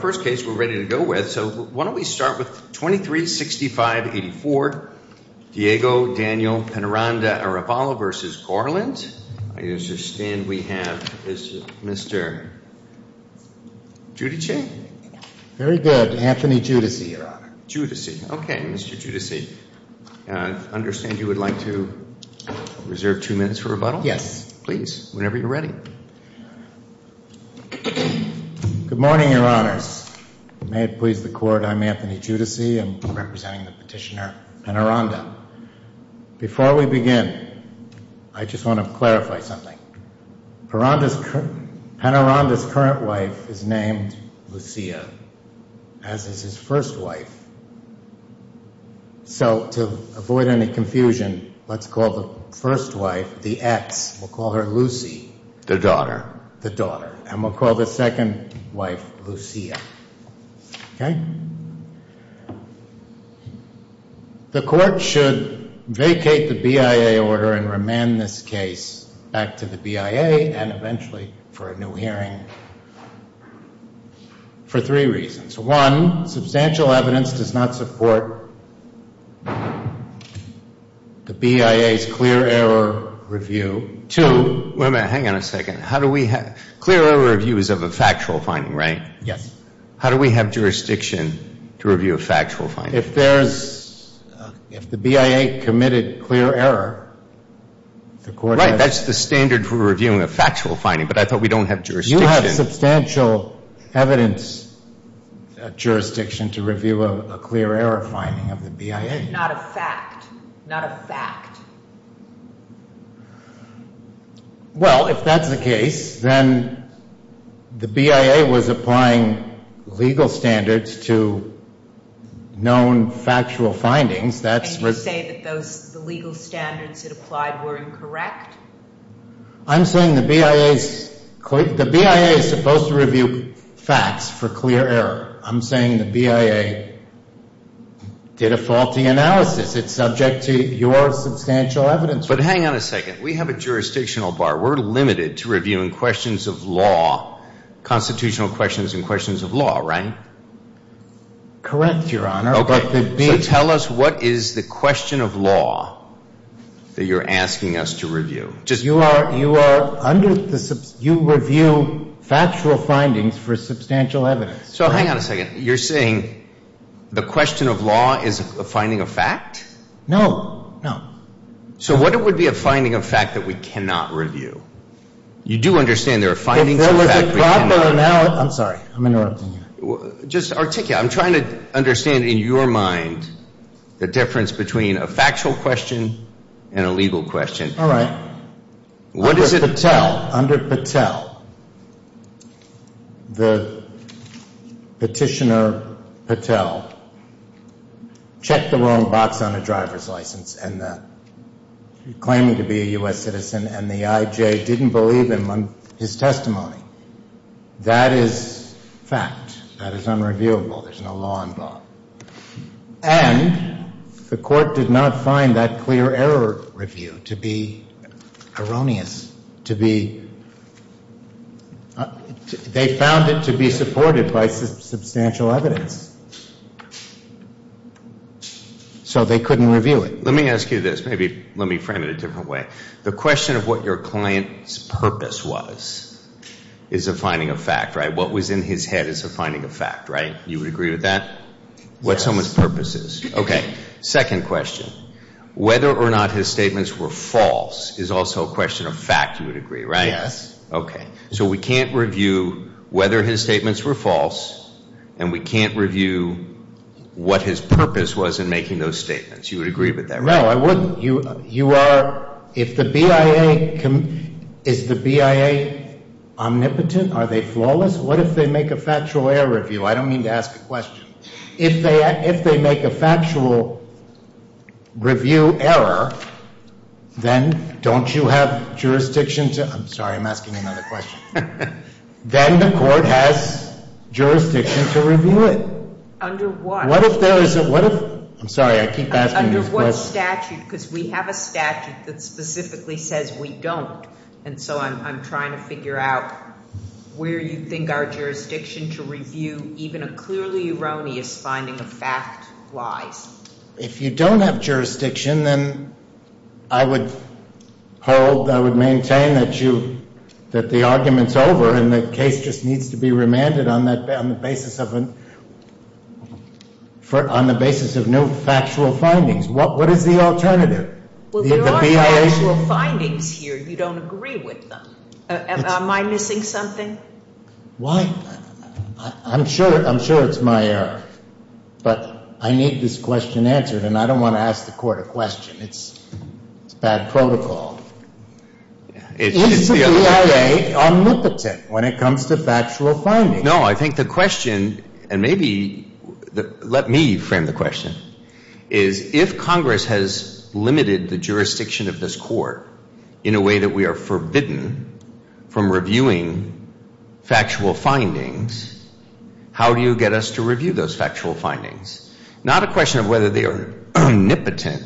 first case we're ready to go with. So why don't we start with 23-65-84, Diego Daniel Penaranda Arevalo v. Garland. I understand we have Mr. Giudice? Very good. Anthony Giudice, Your Honor. Giudice. Okay, Mr. Giudice. I understand you would like to reserve two minutes for rebuttal? Yes. Please, whenever you're ready. Good morning, Your Honors. May it please the Court. I'm Anthony Giudice. I'm representing the petitioner, Penaranda. Before we begin, I just want to clarify something. Penaranda's current wife is named Lucia, as is his first wife. So to avoid any confusion, let's call the first wife, the ex, we'll call her Lucy. The daughter. The daughter. And we'll call the second wife Lucia. Okay? The Court should vacate the BIA order and remand this case back to the BIA and eventually for a new hearing for three reasons. One, substantial evidence does not support the BIA's clear error review. Two... Wait a minute, hang on a second. How do we have... Clear error review is of a factual finding, right? Yes. How do we have jurisdiction to review a factual finding? If there's, if the BIA committed clear error, the Court has... Right, that's the standard for reviewing a factual finding, but I thought we don't have jurisdiction. You have substantial evidence jurisdiction to review a clear error finding of the BIA. Not a fact. Not a fact. Well, if that's the case, then the BIA was applying legal standards to known factual findings. That's... And you say that those, the legal standards it applied were incorrect? I'm saying the BIA's... The BIA is supposed to review facts for clear error. I'm saying the BIA did a faulty analysis. It's subject to your substantial evidence. But hang on a second. We have a jurisdictional bar. We're limited to reviewing questions of law, constitutional questions and questions of law, right? Correct, Your Honor. Okay. So tell us what is the question of law that you're asking us to review? Just... You are, you are under the... You review factual findings for substantial evidence. So hang on a second. You're saying the question of law is a finding of fact? No, no. So what it would be a finding of fact that we cannot review? You do understand there are findings of fact we cannot... I'm sorry. I'm interrupting you. Just articulate. I'm trying to understand in your mind the difference between a factual question and a legal question. All right. Under Patel, the petitioner Patel checked the wrong box on a driver's license and claiming to be a U.S. That is fact. That is unreviewable. There's no law involved. And the court did not find that clear error review to be erroneous, to be... They found it to be supported by substantial evidence. So they couldn't review it. Let me ask you this. Maybe let me frame it a different way. The question of what your client's purpose was is a finding of fact, right? What was in his head is a finding of fact, right? You would agree with that? What someone's purpose is. Okay. Second question. Whether or not his statements were false is also a question of fact, you would agree, right? Yes. Okay. So we can't review whether his statements were false and we can't review what his purpose was in making those statements. You would agree with that? No, I wouldn't. You are... If the BIA... Is the BIA omnipotent? Are they flawless? What if they make a factual error review? I don't mean to ask a question. If they make a factual review error, then don't you have jurisdiction to... I'm sorry, I'm asking another question. Then the court has jurisdiction to review it. Under what? What if there is a... What if... I'm sorry, I keep asking... Under what statute? Because we have a statute that specifically says we don't. And so I'm trying to figure out where you think our jurisdiction to review even a clearly erroneous finding of fact lies. If you don't have jurisdiction, then I would hold, I would maintain that you... And the case just needs to be remanded on the basis of no factual findings. What is the alternative? Well, there are factual findings here. You don't agree with them. Am I missing something? Why? I'm sure it's my error, but I need this question answered. And I don't want to ask the court a question. It's bad protocol. Is the BIA omnipotent when it comes to factual findings? No, I think the question, and maybe let me frame the question, is if Congress has limited the jurisdiction of this court in a way that we are forbidden from reviewing factual findings, how do you get us to review those factual findings? Not a question of whether they are omnipotent,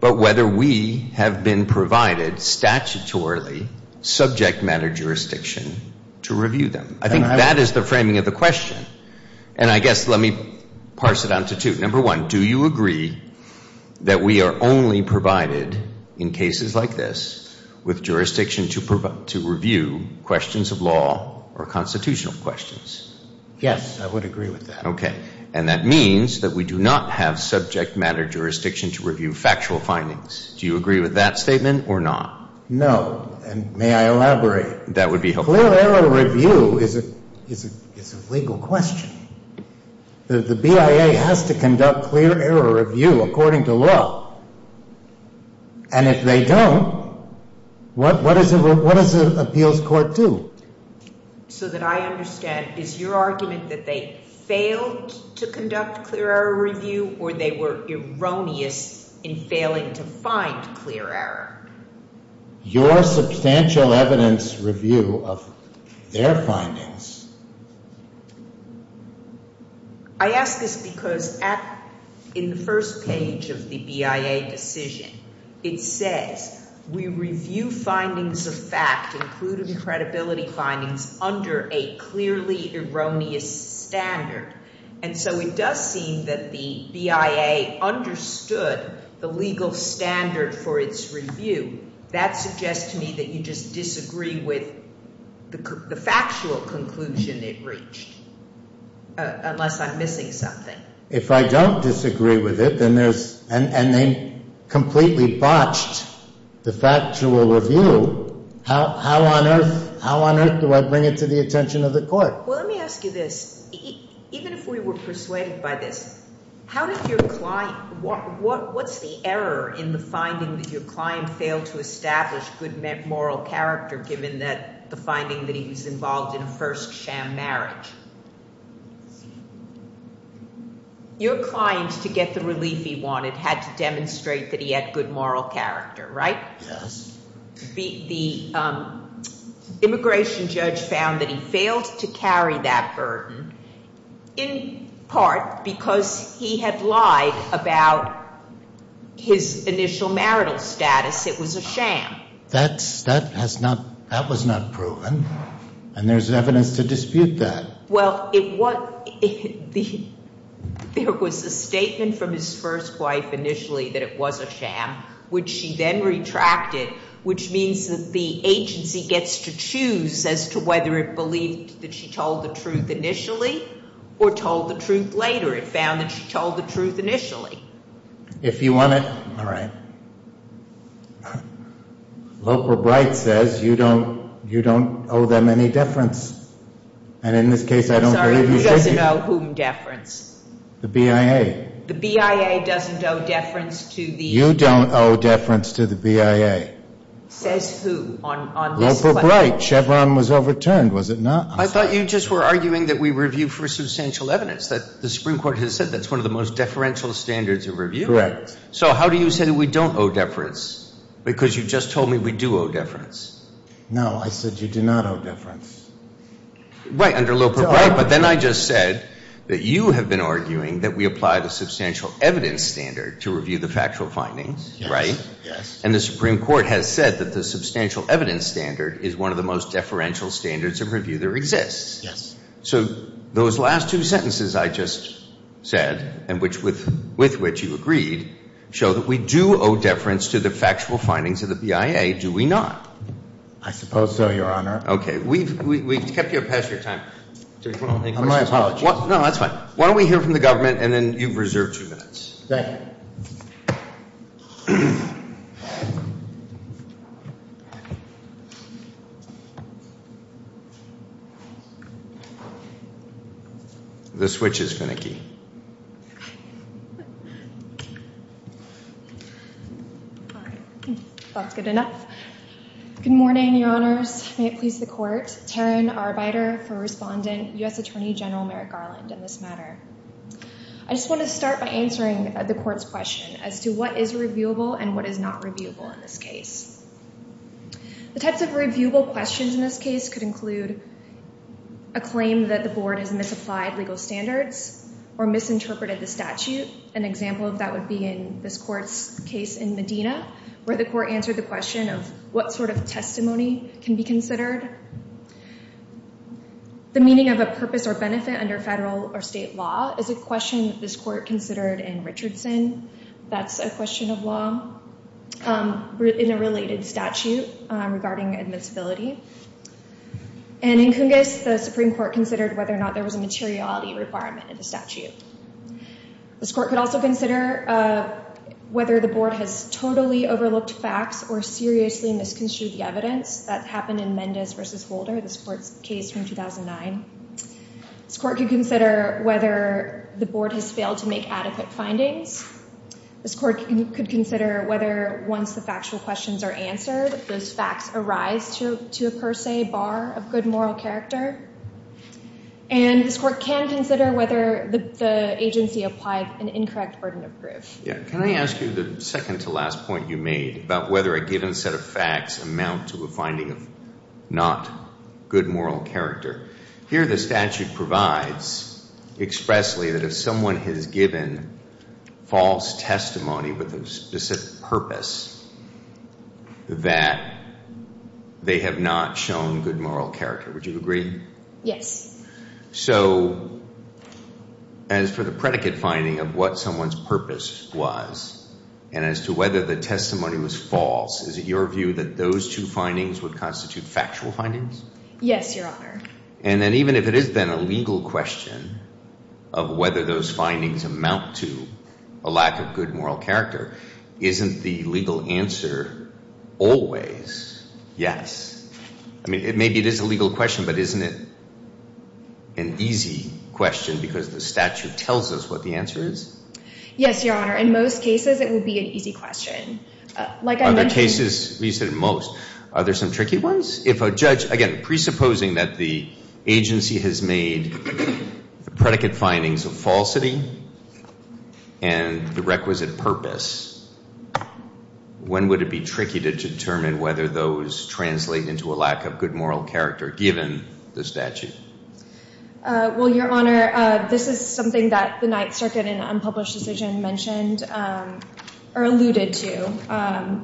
but whether we have been provided statutorily subject matter jurisdiction to review them. I think that is the framing of the question. And I guess let me parse it down to two. Number one, do you agree that we are only provided in cases like this with jurisdiction to review questions of law or constitutional questions? Yes, I would agree with that. And that means that we do not have subject matter jurisdiction to review factual findings. Do you agree with that statement or not? No. And may I elaborate? That would be helpful. Clear error review is a legal question. The BIA has to conduct clear error review according to law. And if they don't, what does an appeals court do? So that I understand, is your argument that they failed to conduct clear error review or they were erroneous in failing to find clear error? Your substantial evidence review of their findings. I ask this because in the first page of the BIA decision, it says, we review findings of fact, including credibility findings, under a clearly erroneous standard. And so it does seem that the BIA understood the legal standard for its review. That suggests to me that you just disagree with the factual conclusion it reached, unless I'm missing something. If I don't disagree with it, and they completely botched the factual review, how on earth do I bring it to the attention of the court? Well, let me ask you this. Even if we were persuaded by this, what's the error in the finding that your client failed to establish good moral character, given that the finding that he was involved in a first sham marriage? Your client, to get the relief he wanted, had to demonstrate that he had good moral character, right? Yes. The immigration judge found that he failed to carry that burden, in part because he had lied about his initial marital status. It was a sham. That was not proven, and there's evidence to dispute that. Well, there was a statement from his first wife, initially, that it was a sham, which she then retracted, which means that the agency gets to choose as to whether it believed that she told the truth initially, or told the truth later. It found that she told the truth initially. If you want it, all right. Loper Bright says you don't owe them any deference, and in this case, I don't believe you did. Sorry, who doesn't owe whom deference? The BIA. The BIA doesn't owe deference to the... You don't owe deference to the BIA. Says who on this question? Loper Bright. Chevron was overturned, was it not? I thought you just were arguing that we review for substantial evidence, that the Supreme Court has said that's the most deferential standards of review. Correct. So how do you say we don't owe deference? Because you just told me we do owe deference. No, I said you do not owe deference. Right, under Loper Bright, but then I just said that you have been arguing that we apply the substantial evidence standard to review the factual findings, right? Yes. And the Supreme Court has said that the substantial evidence standard is one of the most deferential standards of review there exists. Yes. So those last two sentences I just said, and with which you agreed, show that we do owe deference to the factual findings of the BIA, do we not? I suppose so, Your Honor. Okay, we've kept you up past your time. No, that's fine. Why don't we hear from the government, and then you've reserved two minutes. Thank you. The switch is finicky. All right, that's good enough. Good morning, Your Honors. May it please the Court. Taryn Arbeiter for Respondent, U.S. Attorney General Merrick Garland in this matter. I just want to start by answering the Court's question as to what is reviewable and what is not reviewable in this case. The types of reviewable questions in this case could include a claim that the Board has misapplied legal standards or misinterpreted the statute. An example of that would be in this Court's case in Medina, where the Court answered the question of what sort of testimony can be considered, the meaning of a purpose or benefit under federal or state law is a question that this Court considered in Richardson. That's a question of law in a related statute regarding admissibility. And in Cungas, the Supreme Court considered whether or not there was a materiality requirement in the statute. This Court could also consider whether the Board has totally overlooked facts or seriously misconstrued the evidence that happened in Mendez v. Holder, this Court's case from 2009. This Court could consider whether the Board has failed to make adequate findings. This Court could consider whether once the factual questions are answered, those facts arise to a per se bar of good moral character. And this Court can consider whether the agency applied an incorrect burden of proof. Yeah. Can I ask you the second to last point you made about whether a given set of facts amount to a finding of not good moral character. Here the statute provides expressly that if someone has given false testimony with a specific purpose that they have not shown good moral character. Would you agree? Yes. So as for the predicate finding of what someone's purpose was and as to whether the testimony was false, is it your view that those two findings would constitute factual findings? Yes, Your Honor. And then even if it has been a legal question of whether those findings amount to a lack of good moral character, isn't the legal answer always yes? I mean, maybe it is a legal question, but isn't it an easy question because the statute tells us what the answer is? Yes, Your Honor. In most cases, it would be an easy question. Like other cases, you said most, are there some tricky ones? If a judge, again, presupposing that the agency has made the predicate findings of falsity and the requisite purpose, when would it be tricky to determine whether those translate into a lack of good moral character given the statute? Well, Your Honor, this is something that the Ninth Circuit in an unpublished decision mentioned or alluded to,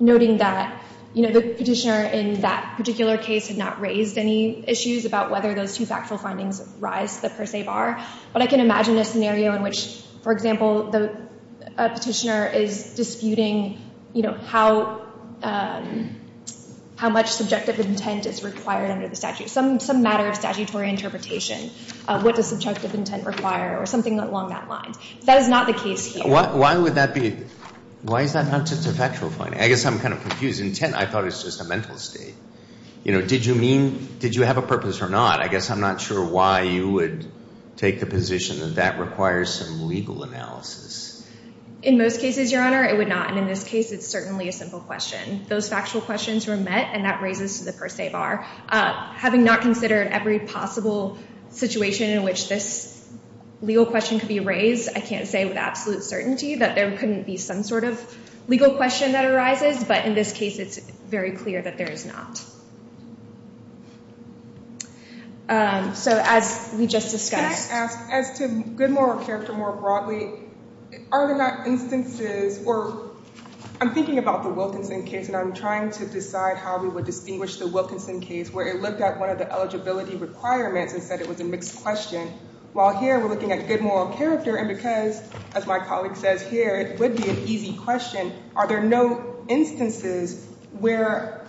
noting that the petitioner in that particular case had not raised any issues about whether those two factual findings rise to the per se bar. But I can imagine a scenario in which, for example, a petitioner is disputing how much subjective intent is required under the statute, some matter of statutory interpretation of what does subjective intent require or something along that line. That is not the case here. Why would that be? Why is that not just a factual finding? I guess I'm kind of confused. Intent, I thought, is just a mental state. Did you have a purpose or not? I guess I'm not sure why you would take the position that that requires some legal analysis. In most cases, Your Honor, it would not. And in this case, it's certainly a simple question. Those factual questions were met, and that raises to the per se bar. Having not considered every possible situation in which this legal question could be raised, I can't say with absolute certainty that there couldn't be some sort of legal question that arises. But in this case, it's very clear that there is not. So as we just discussed. Can I ask, as to good moral character more broadly, are there not instances, or I'm thinking about the Wilkinson case, and I'm trying to decide how we would distinguish the Wilkinson case, where it looked at one of the eligibility requirements and said it was a mixed question, while here we're looking at good moral character. And because, as my colleague says here, it would be an easy question. Are there no instances where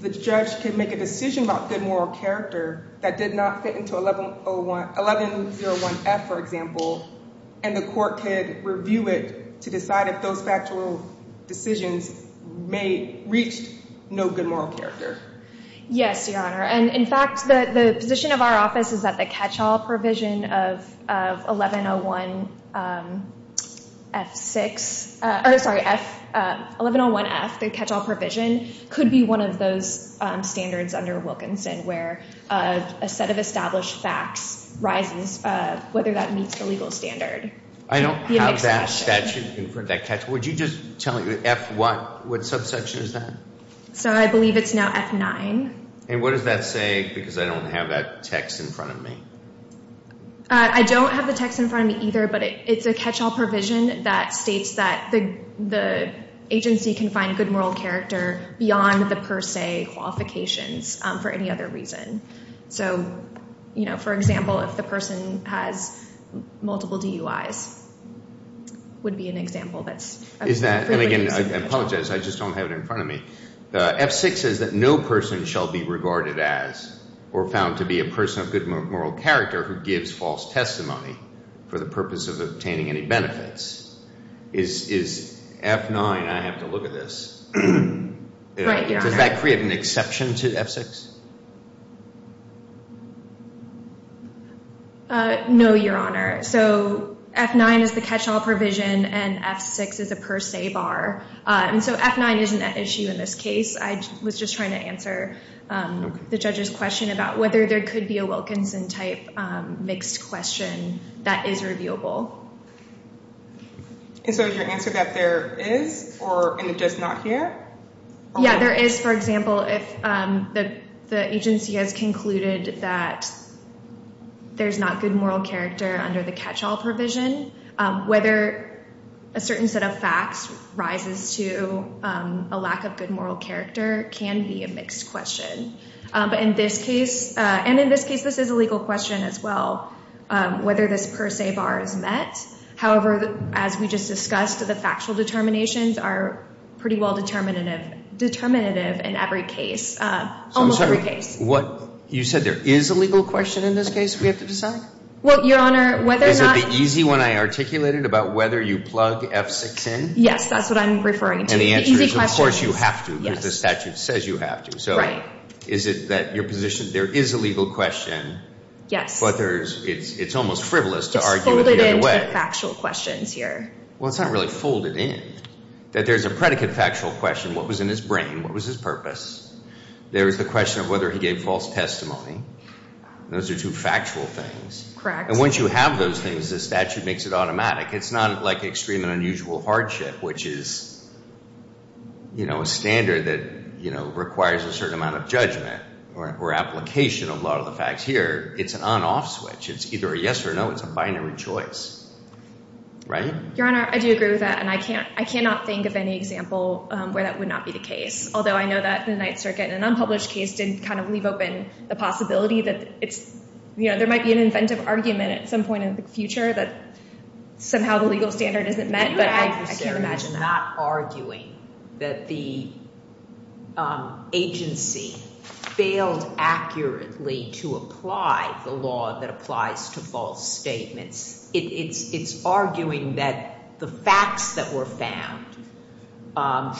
the judge could make a decision about good moral character that did not fit into 1101F, for example, and the court could review it to decide if those factual decisions reached no good moral character? Yes, Your Honor. And in fact, the position of our office is that the catch-all provision of 1101F, the catch-all provision, could be one of those standards under Wilkinson, where a set of established facts rises, whether that meets the legal standard. I don't have that statute in front of me. Would you just tell me, F1, what subsection is that? So I believe it's now F9. And what does that say, because I don't have that text in front of me? I don't have the text in front of me either, but it's a catch-all provision that states that the agency can find good moral character beyond the per se qualifications, for any other reason. So, you know, for example, if the person has multiple DUIs, it would be an example that's Is that, and again, I apologize, I just don't have it in front of me. F6 says that no person shall be regarded as or found to be a person of good moral character who gives false testimony for the purpose of obtaining any benefits. Is F9, I have to look at this. Does that create an exception to F6? No, Your Honor. So F9 is the catch-all provision and F6 is a per se bar. And so F9 isn't an issue in this case. I was just trying to answer the judge's question about whether there could be a Wilkinson-type mixed question that is reviewable. And so your answer is that there is, and it does not here? Yeah, there is. For example, if the agency has concluded that there's not good moral character under the catch-all provision, whether a certain set of facts rises to a lack of good moral character can be a mixed question. But in this case, and in this case, this is a legal question as well, whether this per se bar is met. However, as we just discussed, the factual determinations are pretty well determinative in every case, almost every case. You said there is a legal question in this case we have to decide? Well, Your Honor, whether or not... Is it the easy one I articulated about whether you plug F6 in? Yes, that's what I'm referring to. And the answer is, of course, you have to because the statute says you have to. So is it that your position, there is a legal question, but it's almost frivolous to argue it the other way. Factual questions here. Well, it's not really folded in, that there's a predicate factual question. What was in his brain? What was his purpose? There is the question of whether he gave false testimony. Those are two factual things. Correct. And once you have those things, the statute makes it automatic. It's not like extreme and unusual hardship, which is a standard that requires a certain amount of judgment or application of a lot of the facts. Here, it's an on-off switch. It's either a yes or no. It's a binary choice. Ryan? Your Honor, I do agree with that. And I cannot think of any example where that would not be the case. Although I know that the Ninth Circuit, in an unpublished case, didn't kind of leave open the possibility that there might be an inventive argument at some point in the future that somehow the legal standard isn't met. But I can't imagine that. Not arguing that the agency failed accurately to apply the law that applies to false statements. It's arguing that the facts that were found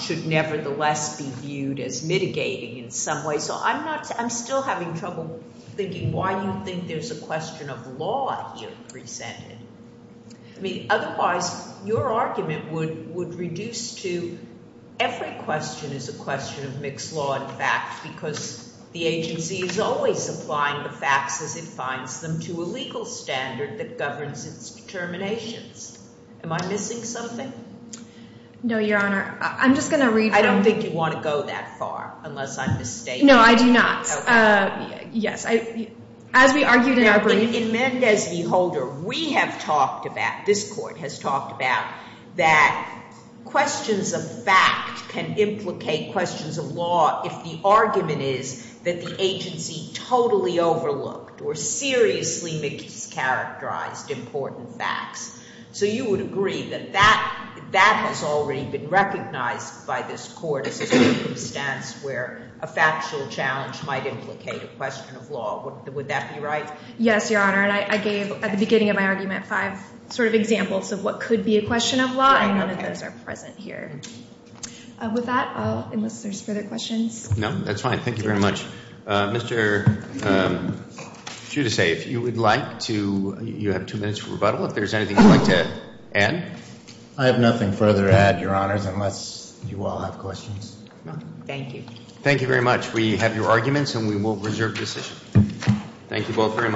should nevertheless be viewed as mitigating in some way. So I'm still having trouble thinking why you think there's a question of law here presented. I mean, otherwise, your argument would reduce to every question is a question of mixed law and fact, because the agency is always applying the facts as it finds them to a legal standard that governs its determinations. Am I missing something? No, your Honor. I'm just going to read. I don't think you want to go that far, unless I'm mistaken. No, I do not. Yes. As we argued in our brief. In Mendez v. Holder, we have talked about, this Court has talked about, that questions of fact can implicate questions of law if the argument is that the agency totally overlooked or seriously mischaracterized important facts. So you would agree that that has already been recognized by this Court as a circumstance where a factual challenge might implicate a question of law. Would that be right? Yes, your Honor. And I gave, at the beginning of my argument, five sort of examples of what could be a question of law, and none of those are present here. With that, unless there's further questions. No, that's fine. Thank you very much. Mr. Giudice, if you would like to, you have two minutes for rebuttal. If there's anything you'd like to add. I have nothing further to add, your Honors, unless you all have questions. Thank you. Thank you very much. We have your arguments, and we will reserve decision. Thank you both very much.